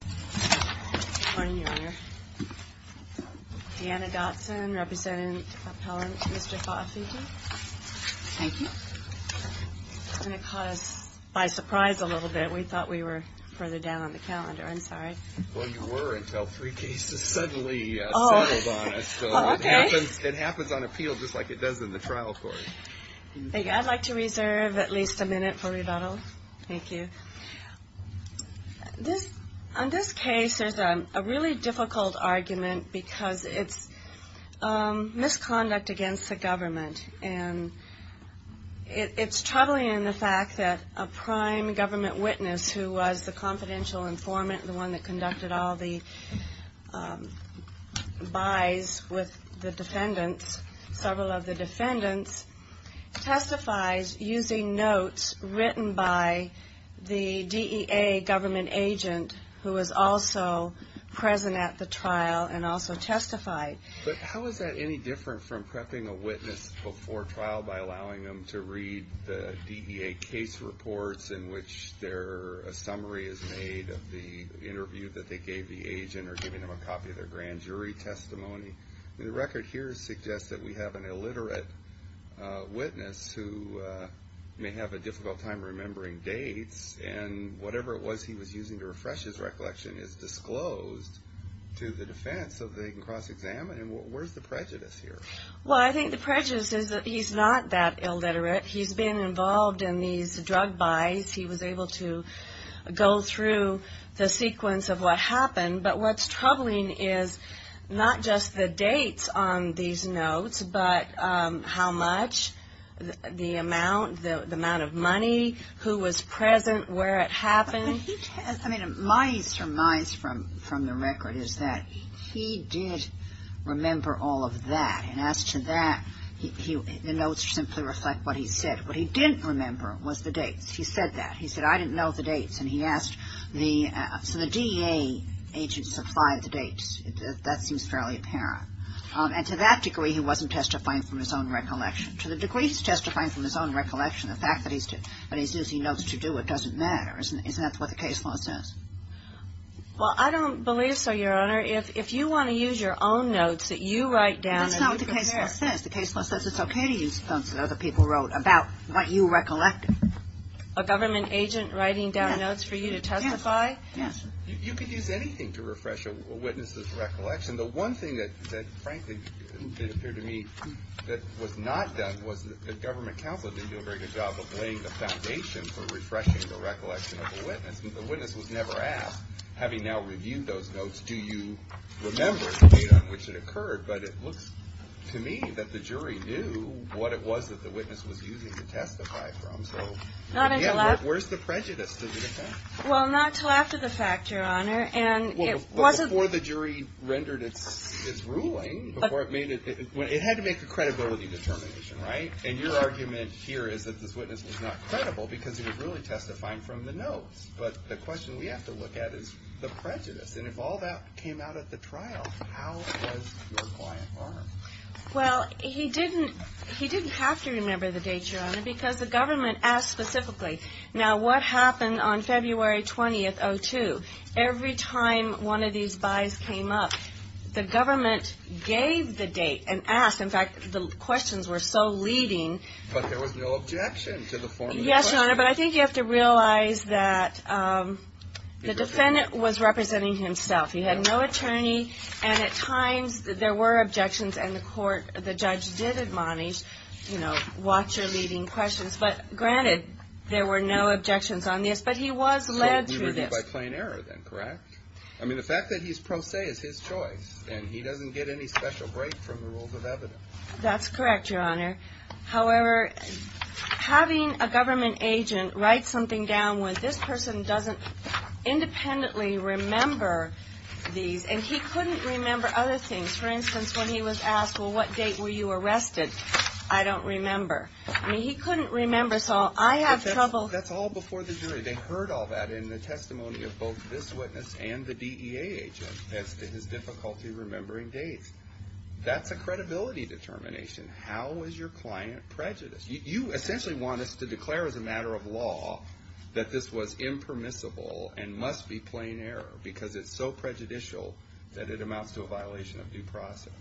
Good morning, Your Honor. Deanna Dotson, Representative Appellant to Mr. Faafiti. Thank you. And it caught us by surprise a little bit. We thought we were further down on the calendar. I'm sorry. Well, you were until three cases suddenly settled on us. Oh, okay. It happens on appeal just like it does in the trial court. Thank you. I'd like to reserve at least a minute for rebuttal. Thank you. On this case, there's a really difficult argument because it's misconduct against the government. And it's troubling in the fact that a prime government witness who was the confidential informant, the one that conducted all the buys with the defendants, several of the defendants, testifies using notes written by the DEA government agent who was also present at the trial and also testified. But how is that any different from prepping a witness before trial by allowing them to read the DEA case reports in which a summary is made of the interview that they gave the agent or giving them a copy of their grand jury testimony? The record here suggests that we have an illiterate witness who may have a difficult time remembering dates. And whatever it was he was using to refresh his recollection is disclosed to the defense so they can cross-examine. And where's the prejudice here? Well, I think the prejudice is that he's not that illiterate. He's been involved in these drug buys. He was able to go through the sequence of what happened. But what's troubling is not just the dates on these notes but how much, the amount, the amount of money, who was present, where it happened. I mean, my surmise from the record is that he did remember all of that. And as to that, the notes simply reflect what he said. What he didn't remember was the dates. He said that. He said, I didn't know the dates. And he asked the, so the DA agent supplied the dates. That seems fairly apparent. And to that degree he wasn't testifying from his own recollection. To the degree he's testifying from his own recollection, the fact that he's using notes to do it doesn't matter. Isn't that what the case law says? Well, I don't believe so, Your Honor. If you want to use your own notes that you write down. That's not what the case law says. The case law says it's okay to use notes that other people wrote about what you recollected. A government agent writing down notes for you to testify? Yes. You could use anything to refresh a witness's recollection. The one thing that, frankly, it appeared to me that was not done was the government counsel did a very good job of laying the foundation for refreshing the recollection of the witness. The witness was never asked, having now reviewed those notes, do you remember the date on which it occurred? But it looks to me that the jury knew what it was that the witness was using to testify from. Not until after. Where's the prejudice? Well, not until after the fact, Your Honor. Before the jury rendered its ruling, it had to make a credibility determination, right? And your argument here is that this witness was not credible because he was really testifying from the notes. But the question we have to look at is the prejudice. And if all that came out at the trial, how was your client harmed? Well, he didn't have to remember the date, Your Honor, because the government asked specifically. Now, what happened on February 20th, 2002? Every time one of these buys came up, the government gave the date and asked. In fact, the questions were so leading. But there was no objection to the form of the question. Yes, Your Honor, but I think you have to realize that the defendant was representing himself. He had no attorney, and at times there were objections, and the court, the judge did admonish, you know, watch your leading questions. But granted, there were no objections on this. But he was led through this. He was led by plain error then, correct? I mean, the fact that he's pro se is his choice, and he doesn't get any special break from the rules of evidence. That's correct, Your Honor. However, having a government agent write something down when this person doesn't independently remember these, and he couldn't remember other things. For instance, when he was asked, well, what date were you arrested? I don't remember. I mean, he couldn't remember, so I have trouble. That's all before the jury. They heard all that in the testimony of both this witness and the DEA agent as to his difficulty remembering dates. That's a credibility determination. How is your client prejudiced? You essentially want us to declare as a matter of law that this was impermissible and must be plain error because it's so prejudicial that it amounts to a violation of due process,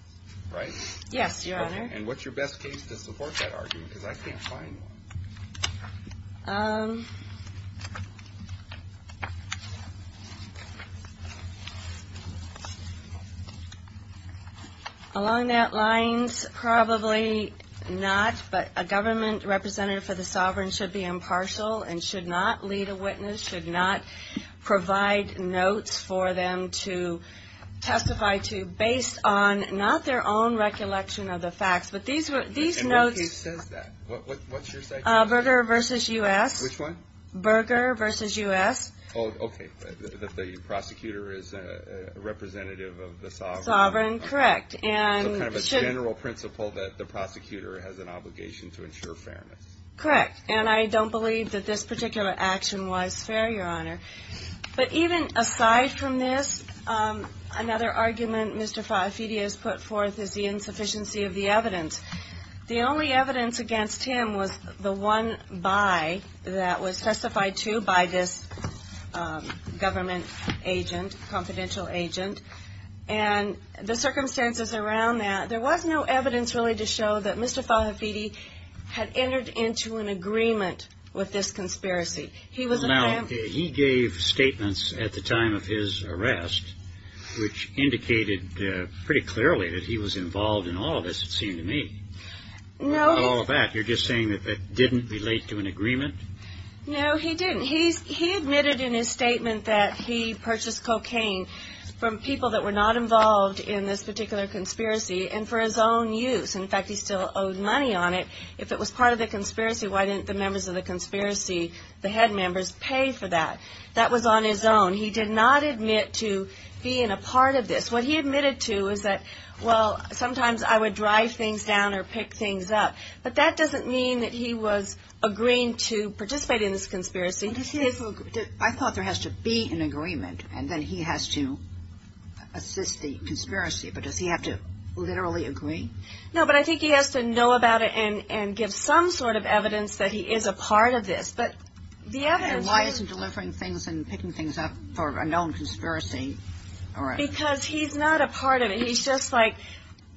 right? Yes, Your Honor. And what's your best case to support that argument? Because I can't find one. Along that lines, probably not, but a government representative for the sovereign should be impartial and should not lead a witness, should not provide notes for them to testify to based on not their own recollection of the facts, but these notes. And what case says that? What's your side's case? Berger v. U.S. Which one? Berger v. U.S. Oh, okay. The prosecutor is a representative of the sovereign. Sovereign, correct. And should... So kind of a general principle that the prosecutor has an obligation to ensure fairness. Correct. And I don't believe that this particular action was fair, Your Honor. But even aside from this, another argument Mr. Fahafidi has put forth is the insufficiency of the evidence. The only evidence against him was the one by that was testified to by this government agent, confidential agent, and the circumstances around that, there was no evidence really to show that Mr. Fahafidi had entered into an agreement with this conspiracy. Now, he gave statements at the time of his arrest which indicated pretty clearly that he was involved in all of this, it seemed to me. No. All of that, you're just saying that that didn't relate to an agreement? No, he didn't. He admitted in his statement that he purchased cocaine from people that were not involved in this particular conspiracy and for his own use. In fact, he still owed money on it. If it was part of the conspiracy, why didn't the members of the conspiracy, the head members, pay for that? That was on his own. He did not admit to being a part of this. What he admitted to is that, well, sometimes I would drive things down or pick things up. But that doesn't mean that he was agreeing to participate in this conspiracy. I thought there has to be an agreement and then he has to assist the conspiracy, but does he have to literally agree? No, but I think he has to know about it and give some sort of evidence that he is a part of this. Why isn't he delivering things and picking things up for a known conspiracy arrest? Because he's not a part of it. He's just like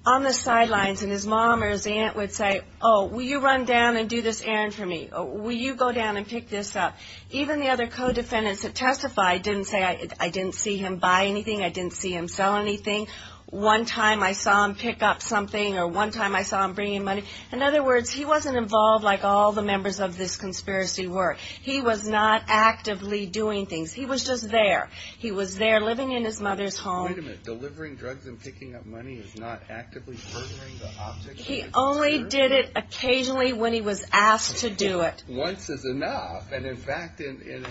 on the sidelines and his mom or his aunt would say, oh, will you run down and do this errand for me? Will you go down and pick this up? Even the other co-defendants that testified didn't say I didn't see him buy anything, I didn't see him sell anything. One time I saw him pick up something or one time I saw him bringing money. In other words, he wasn't involved like all the members of this conspiracy were. He was not actively doing things. He was just there. He was there living in his mother's home. Wait a minute. Delivering drugs and picking up money is not actively furthering the object of the conspiracy? He only did it occasionally when he was asked to do it. Once is enough. And, in fact, in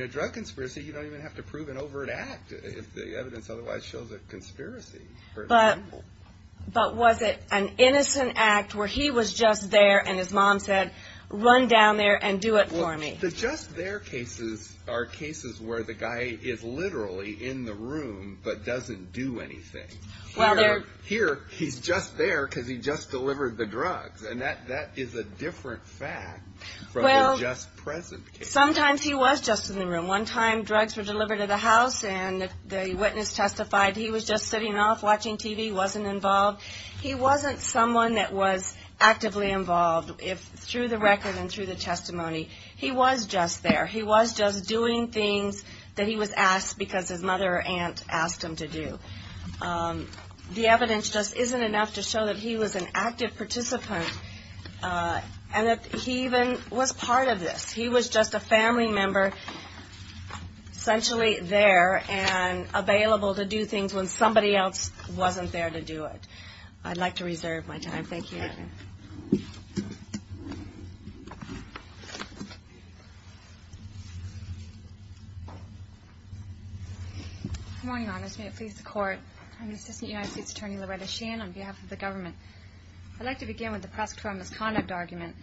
a drug conspiracy you don't even have to prove an overt act if the evidence otherwise shows a conspiracy. But was it an innocent act where he was just there and his mom said run down there and do it for me? The just there cases are cases where the guy is literally in the room but doesn't do anything. Here he's just there because he just delivered the drugs. And that is a different fact from the just present case. Sometimes he was just in the room. One time drugs were delivered to the house and the witness testified he was just sitting off watching TV, wasn't involved. He wasn't someone that was actively involved through the record and through the testimony. He was just there. He was just doing things that he was asked because his mother or aunt asked him to do. The evidence just isn't enough to show that he was an active participant and that he even was part of this. He was just a family member essentially there and available to do things when somebody else wasn't there to do it. I'd like to reserve my time. Thank you. Good morning, Your Honors. May it please the Court. I'm Assistant United States Attorney Loretta Sheehan on behalf of the government. I'd like to begin with the prosecutorial misconduct argument.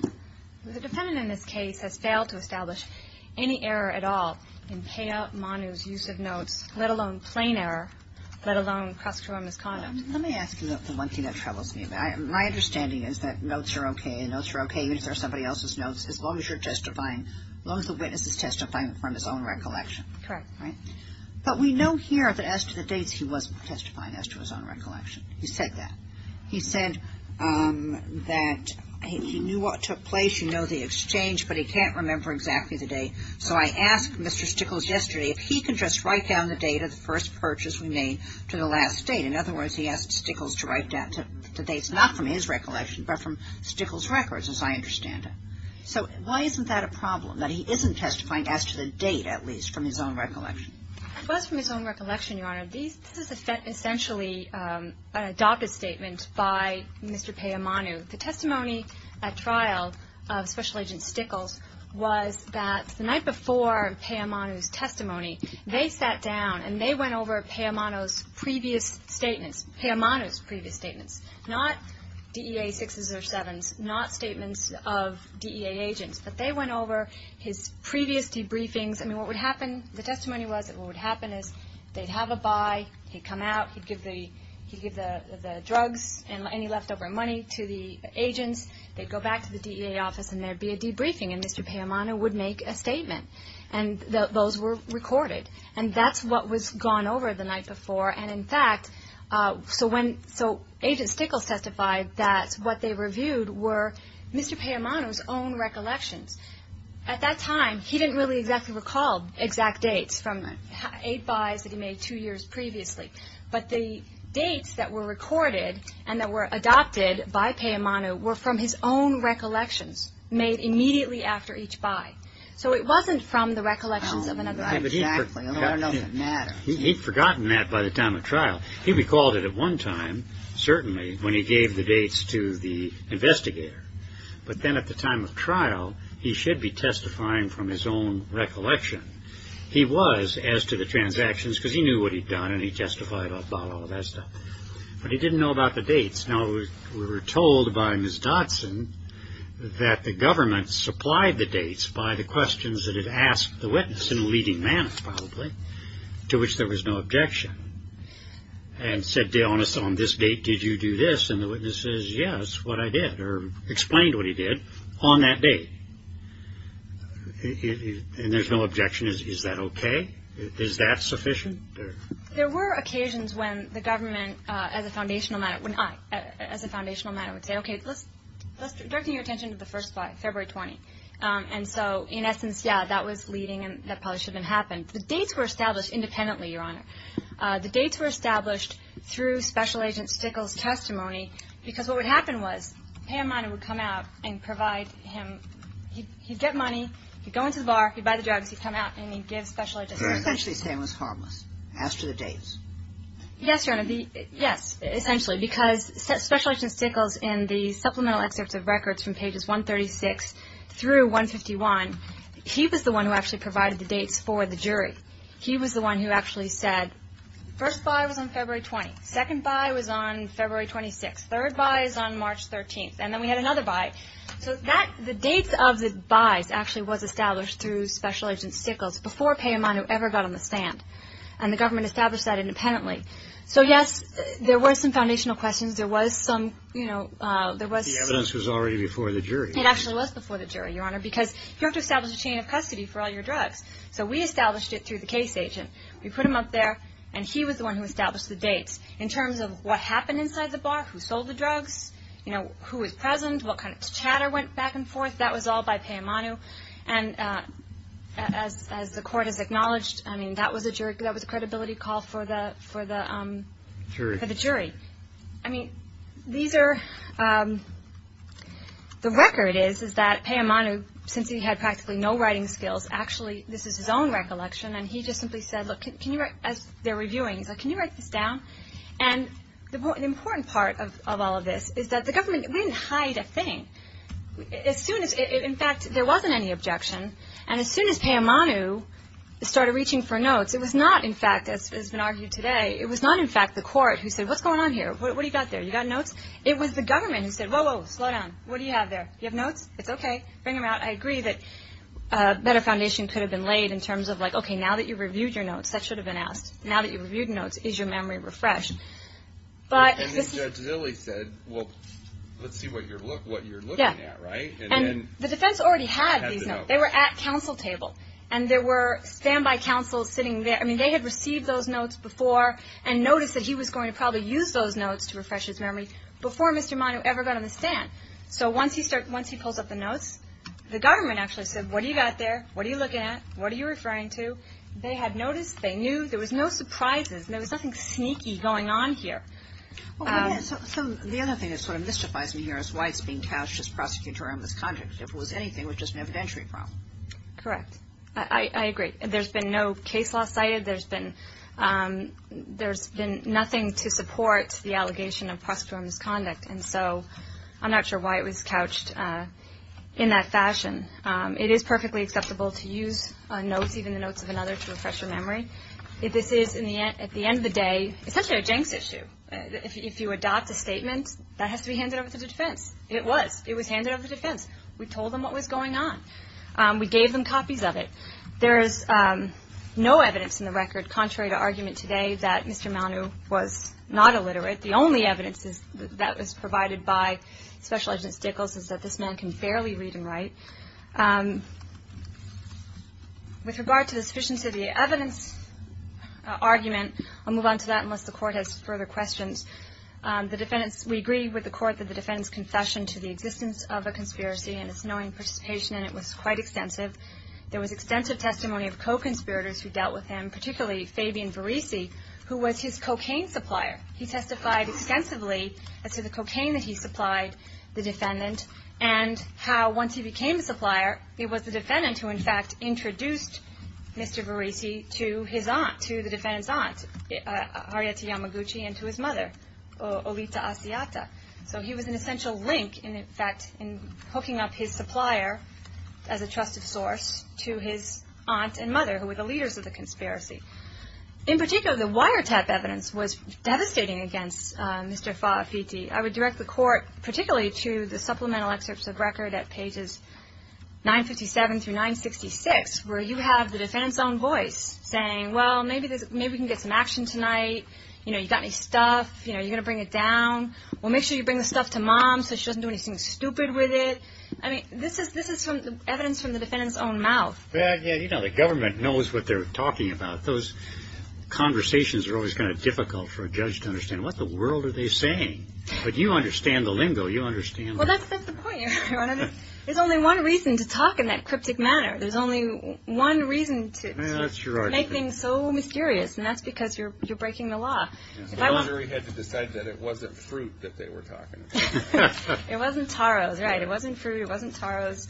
The defendant in this case has failed to establish any error at all in Peya Manu's use of notes, let alone plain error, let alone prosecutorial misconduct. Let me ask you the one thing that troubles me. My understanding is that the defendant is not a criminal. My understanding is that notes are okay. Notes are okay even if they're somebody else's notes as long as you're testifying, as long as the witness is testifying from his own recollection. Correct. Right? But we know here that as to the dates he was testifying as to his own recollection. He said that. He said that he knew what took place, he knew the exchange, but he can't remember exactly the date. So I asked Mr. Stickles yesterday if he could just write down the date of the first purchase we made to the last date. In other words, he asked Stickles to write down the dates, not from his recollection, but from Stickles' records as I understand it. So why isn't that a problem, that he isn't testifying as to the date at least from his own recollection? It was from his own recollection, Your Honor. This is essentially an adopted statement by Mr. Peya Manu. The testimony at trial of Special Agent Stickles was that the night before Peya Manu's testimony, they sat down and they went over Peya Manu's previous statements, Peya Manu's previous statements, not DEA sixes or sevens, not statements of DEA agents, but they went over his previous debriefings. I mean, what would happen, the testimony was that what would happen is they'd have a buy, he'd come out, he'd give the drugs and any leftover money to the agents, they'd go back to the DEA office and there'd be a debriefing, and Mr. Peya Manu would make a statement. And those were recorded. And that's what was gone over the night before. And in fact, so Agent Stickles testified that what they reviewed were Mr. Peya Manu's own recollections. At that time, he didn't really exactly recall exact dates from eight buys that he made two years previously. But the dates that were recorded and that were adopted by Peya Manu were from his own recollections made immediately after each buy. So it wasn't from the recollections of another guy. Exactly. I don't know if it matters. He'd forgotten that by the time of trial. He recalled it at one time, certainly, when he gave the dates to the investigator. But then at the time of trial, he should be testifying from his own recollection. He was as to the transactions because he knew what he'd done and he testified about all that stuff. But he didn't know about the dates. Now, we were told by Ms. Dodson that the government supplied the dates by the questions that it asked the witness in a leading manner, probably, to which there was no objection and said, on this date, did you do this? And the witness says, yes, what I did or explained what he did on that day. And there's no objection. Is that OK? Is that sufficient? There were occasions when the government, as a foundational matter, would say, OK, let's direct your attention to the 1st of February 20. And so, in essence, yeah, that was leading and that probably shouldn't have happened. The dates were established independently, Your Honor. The dates were established through Special Agent Stickel's testimony because what would happen was, a payment would come out and provide him, he'd get money, he'd go into the bar, he'd buy the drugs, he'd come out and he'd give Special Agent Stickel. Essentially saying it was harmless, as to the dates. Yes, Your Honor. Yes, essentially. Because Special Agent Stickel's in the supplemental excerpts of records from pages 136 through 151, he was the one who actually provided the dates for the jury. He was the one who actually said, 1st buy was on February 20. 2nd buy was on February 26. 3rd buy is on March 13. And then we had another buy. So that, the dates of the buys actually was established through Special Agent Stickel's before Payamonu ever got on the stand. And the government established that independently. So, yes, there were some foundational questions. There was some, you know, there was some. The evidence was already before the jury. It actually was before the jury, Your Honor, because you have to establish a chain of custody for all your drugs. So we established it through the case agent. We put him up there and he was the one who established the dates in terms of what happened inside the bar, who sold the drugs, you know, who was present, what kind of chatter went back and forth. That was all by Payamonu. And as the court has acknowledged, I mean, that was a jury, that was a credibility call for the jury. I mean, these are, the record is, is that Payamonu, since he had practically no writing skills, actually, this is his own recollection, and he just simply said, look, can you write, as they're reviewing, he's like, can you write this down? And the important part of all of this is that the government didn't hide a thing. As soon as, in fact, there wasn't any objection, and as soon as Payamonu started reaching for notes, it was not, in fact, as has been argued today, it was not, in fact, the court who said, what's going on here? What do you got there? You got notes? It was the government who said, whoa, whoa, slow down. What do you have there? You have notes? It's okay. Bring them out. I agree that a better foundation could have been laid in terms of like, okay, now that you've reviewed your notes, that should have been asked. Now that you've reviewed notes, is your memory refreshed? And then Judge Zilley said, well, let's see what you're looking at, right? And the defense already had these notes. They were at counsel table, and there were standby counsels sitting there. I mean, they had received those notes before and noticed that he was going to probably use those notes to refresh his memory before Mr. Monu ever got on the stand. So once he pulls up the notes, the government actually said, what do you got there? What are you looking at? What are you referring to? They had noticed. They knew. There was no surprises. There was nothing sneaky going on here. The other thing that sort of mystifies me here is why it's being couched as prosecutorial misconduct. If it was anything, it was just an evidentiary problem. Correct. I agree. There's been no case law cited. There's been nothing to support the allegation of prosecutorial misconduct. And so I'm not sure why it was couched in that fashion. It is perfectly acceptable to use notes, even the notes of another, to refresh your memory. This is, at the end of the day, essentially a Jenks issue. If you adopt a statement, that has to be handed over to the defense. It was. It was handed over to the defense. We told them what was going on. We gave them copies of it. There is no evidence in the record, contrary to argument today, that Mr. Monu was not illiterate. The only evidence that was provided by Special Agent Stickles is that this man can barely read and write. With regard to the sufficiency of the evidence argument, I'll move on to that unless the court has further questions. We agree with the court that the defendant's confession to the existence of a conspiracy and its knowing participation in it was quite extensive. There was extensive testimony of co-conspirators who dealt with him, particularly Fabian Verrissi, who was his cocaine supplier. He testified extensively as to the cocaine that he supplied the defendant and how, once he became a supplier, it was the defendant who, in fact, introduced Mr. Verrissi to his aunt, to the defendant's aunt, Harriet Yamaguchi, and to his mother, Olita Asiata. So he was an essential link, in fact, in hooking up his supplier as a trusted source to his aunt and mother, who were the leaders of the conspiracy. In particular, the wiretap evidence was devastating against Mr. Fafiti. I would direct the court, particularly to the supplemental excerpts of record at pages 957 through 966, where you have the defendant's own voice saying, well, maybe we can get some action tonight. You know, you got any stuff? You know, are you going to bring it down? Well, make sure you bring the stuff to Mom so she doesn't do anything stupid with it. I mean, this is evidence from the defendant's own mouth. Yeah, you know, the government knows what they're talking about. Those conversations are always kind of difficult for a judge to understand. What in the world are they saying? But you understand the lingo. You understand. Well, that's not the point. There's only one reason to talk in that cryptic manner. There's only one reason to make things so mysterious, and that's because you're breaking the law. The lottery had to decide that it wasn't fruit that they were talking about. It wasn't Taro's, right. It wasn't fruit. It wasn't Taro's.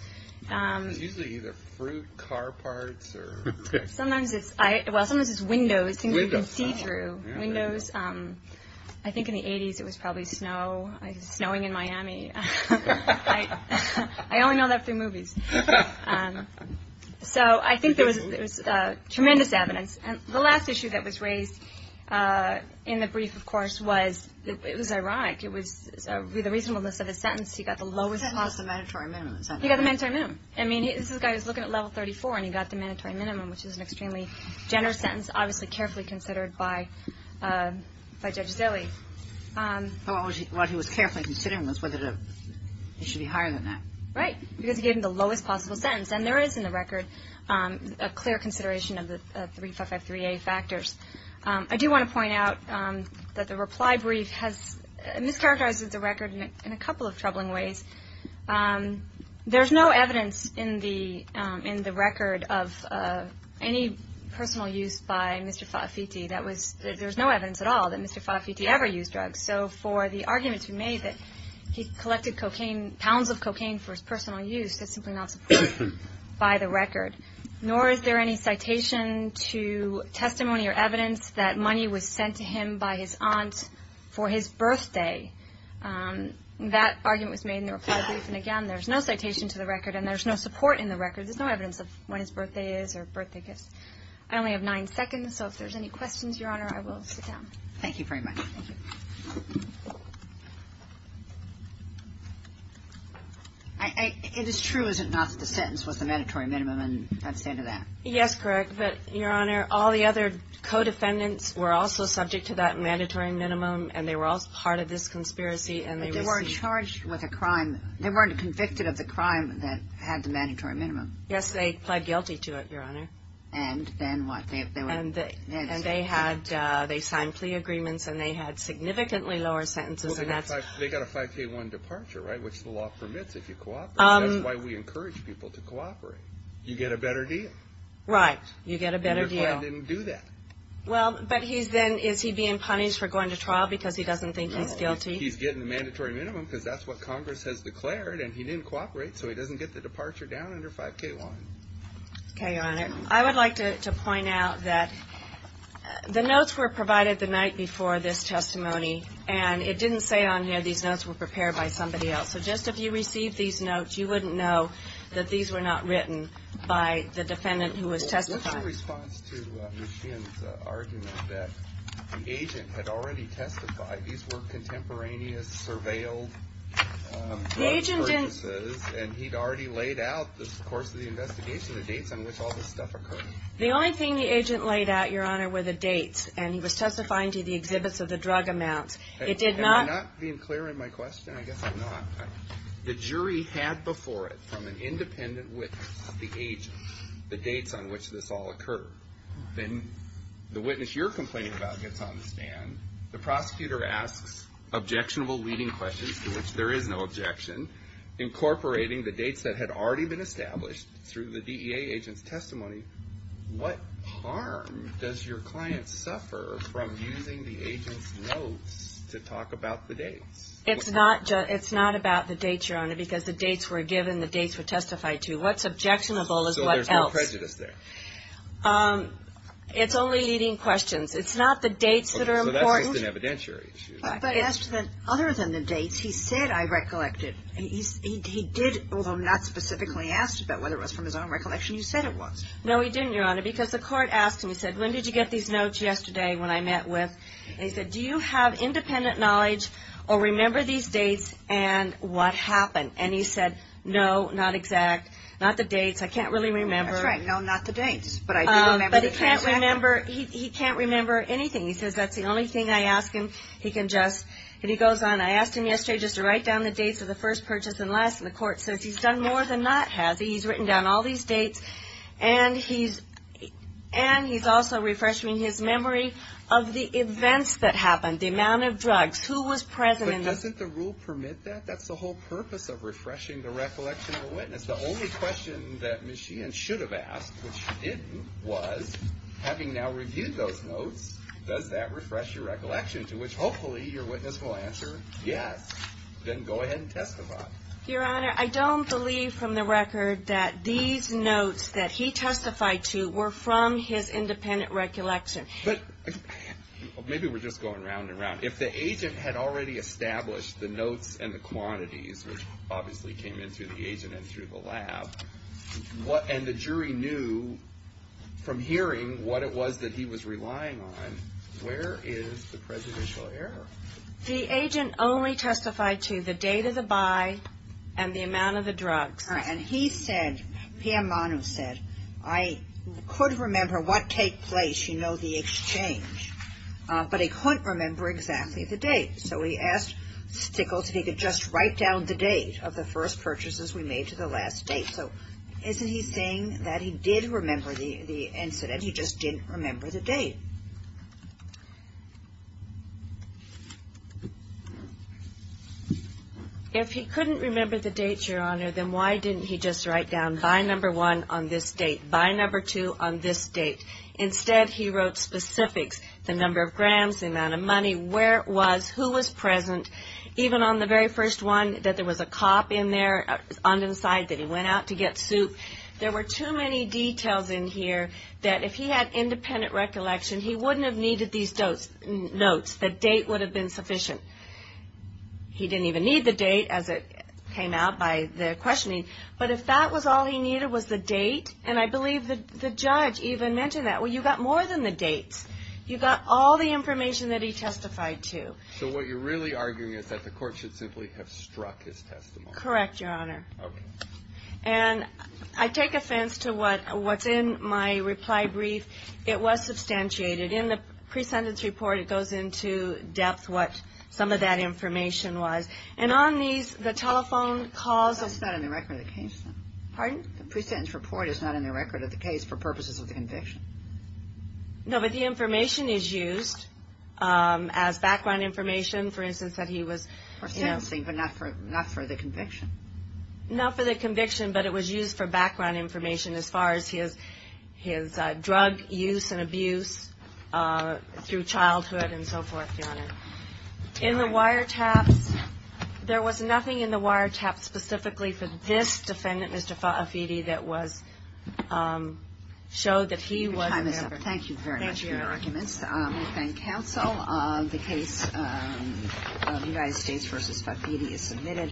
It was usually either fruit, car parts, or... Sometimes it's, well, sometimes it's windows, things you can see through. Windows. I think in the 80s it was probably snow. It was snowing in Miami. I only know that through movies. So I think there was tremendous evidence. And the last issue that was raised in the brief, of course, was it was ironic. It was the reasonableness of his sentence. He got the lowest... I mean, this is a guy who's looking at level 34, and he got the mandatory minimum, which is an extremely generous sentence, obviously carefully considered by Judge Zille. What he was carefully considering was whether he should be higher than that. Right, because he gave him the lowest possible sentence. And there is, in the record, a clear consideration of the 3553A factors. I do want to point out that the reply brief has mischaracterized the record in a couple of troubling ways. There's no evidence in the record of any personal use by Mr. Fafiti. There's no evidence at all that Mr. Fafiti ever used drugs. So for the argument to be made that he collected cocaine, pounds of cocaine for his personal use, that's simply not supported by the record. Nor is there any citation to testimony or evidence that money was sent to him by his aunt for his birthday. That argument was made in the reply brief. And again, there's no citation to the record, and there's no support in the record. There's no evidence of when his birthday is or birthday gifts. I only have nine seconds, so if there's any questions, Your Honor, I will sit down. Thank you very much. Thank you. It is true, is it not, that the sentence was the mandatory minimum, and that's the end of that? Yes, correct. But, Your Honor, all the other co-defendants were also subject to that mandatory minimum, and they were all part of this conspiracy. But they weren't charged with a crime. They weren't convicted of the crime that had the mandatory minimum. Yes, they pled guilty to it, Your Honor. And then what? And they signed plea agreements, and they had significantly lower sentences. They got a 5K1 departure, right, which the law permits if you cooperate. That's why we encourage people to cooperate. You get a better deal. Right. You get a better deal. And your client didn't do that. Well, but he's then, is he being punished for going to trial because he doesn't think he's guilty? No, he's getting the mandatory minimum because that's what Congress has declared, and he didn't cooperate, so he doesn't get the departure down under 5K1. Okay, Your Honor. I would like to point out that the notes were provided the night before this testimony, and it didn't say on here these notes were prepared by somebody else. So just if you received these notes, you wouldn't know that these were not written by the defendant who was testifying. What's your response to McKeon's argument that the agent had already testified these were contemporaneous surveilled drug purchases, and he'd already laid out this course of the investigation, the dates on which all this stuff occurred? The only thing the agent laid out, Your Honor, were the dates, and he was testifying to the exhibits of the drug amounts. It did not – Am I not being clear in my question? I guess I'm not. The jury had before it from an independent witness the agent, the dates on which this all occurred. Then the witness you're complaining about gets on the stand. The prosecutor asks objectionable leading questions to which there is no objection, incorporating the dates that had already been established through the DEA agent's testimony. What harm does your client suffer from using the agent's notes to talk about the dates? It's not about the dates, Your Honor, because the dates were given, the dates were testified to. What's objectionable is what else. So there's no prejudice there. It's only leading questions. It's not the dates that are important. So that's just an evidentiary issue. But other than the dates, he said, I recollected, he did, although not specifically asked about whether it was from his own recollection, he said it was. No, he didn't, Your Honor, because the court asked him. He said, when did you get these notes? Yesterday when I met with. And he said, do you have independent knowledge or remember these dates and what happened? And he said, no, not exact, not the dates. I can't really remember. That's right, no, not the dates. But I do remember the dates. But he can't remember anything. He says that's the only thing I ask him. He can just, and he goes on, I asked him yesterday just to write down the dates of the first purchase and last. And the court says he's done more than that, has he? He's written down all these dates. And he's also refreshing his memory of the events that happened, the amount of drugs, who was present. But doesn't the rule permit that? That's the whole purpose of refreshing the recollection of a witness. The only question that Ms. Sheehan should have asked, which she didn't, was, having now reviewed those notes, does that refresh your recollection, to which hopefully your witness will answer yes. Then go ahead and testify. Your Honor, I don't believe from the record that these notes that he testified to were from his independent recollection. But maybe we're just going round and round. If the agent had already established the notes and the quantities, which obviously came in through the agent and through the lab, and the jury knew from hearing what it was that he was relying on, where is the prejudicial error? The agent only testified to the date of the buy and the amount of the drugs. And he said, P.M. Manu said, I could remember what take place, you know, the exchange. But he couldn't remember exactly the date. So he asked Stickles if he could just write down the date of the first purchases we made to the last date. So isn't he saying that he did remember the incident, he just didn't remember the date? If he couldn't remember the date, Your Honor, then why didn't he just write down buy number one on this date, buy number two on this date? Instead, he wrote specifics, the number of grams, the amount of money, where it was, who was present. Even on the very first one, that there was a cop in there on the side that he went out to get soup. There were too many details in here that if he had independent recollection, he wouldn't have needed these notes. The date would have been sufficient. He didn't even need the date as it came out by the questioning. But if that was all he needed was the date, and I believe the judge even mentioned that, well, you got more than the dates. You got all the information that he testified to. So what you're really arguing is that the court should simply have struck his testimony. Correct, Your Honor. Okay. And I take offense to what's in my reply brief. It was substantiated. In the pre-sentence report, it goes into depth what some of that information was. And on these, the telephone calls. That's not in the record of the case. Pardon? The pre-sentence report is not in the record of the case for purposes of the conviction. No, but the information is used as background information, for instance, that he was... For sentencing, but not for the conviction. Not for the conviction, but it was used for background information as far as his drug use and abuse through childhood and so forth, Your Honor. In the wiretaps, there was nothing in the wiretaps specifically for this defendant, Mr. Fafiti, that showed that he was... Thank you very much for your arguments. We thank counsel. The case of United States v. Fafiti is submitted.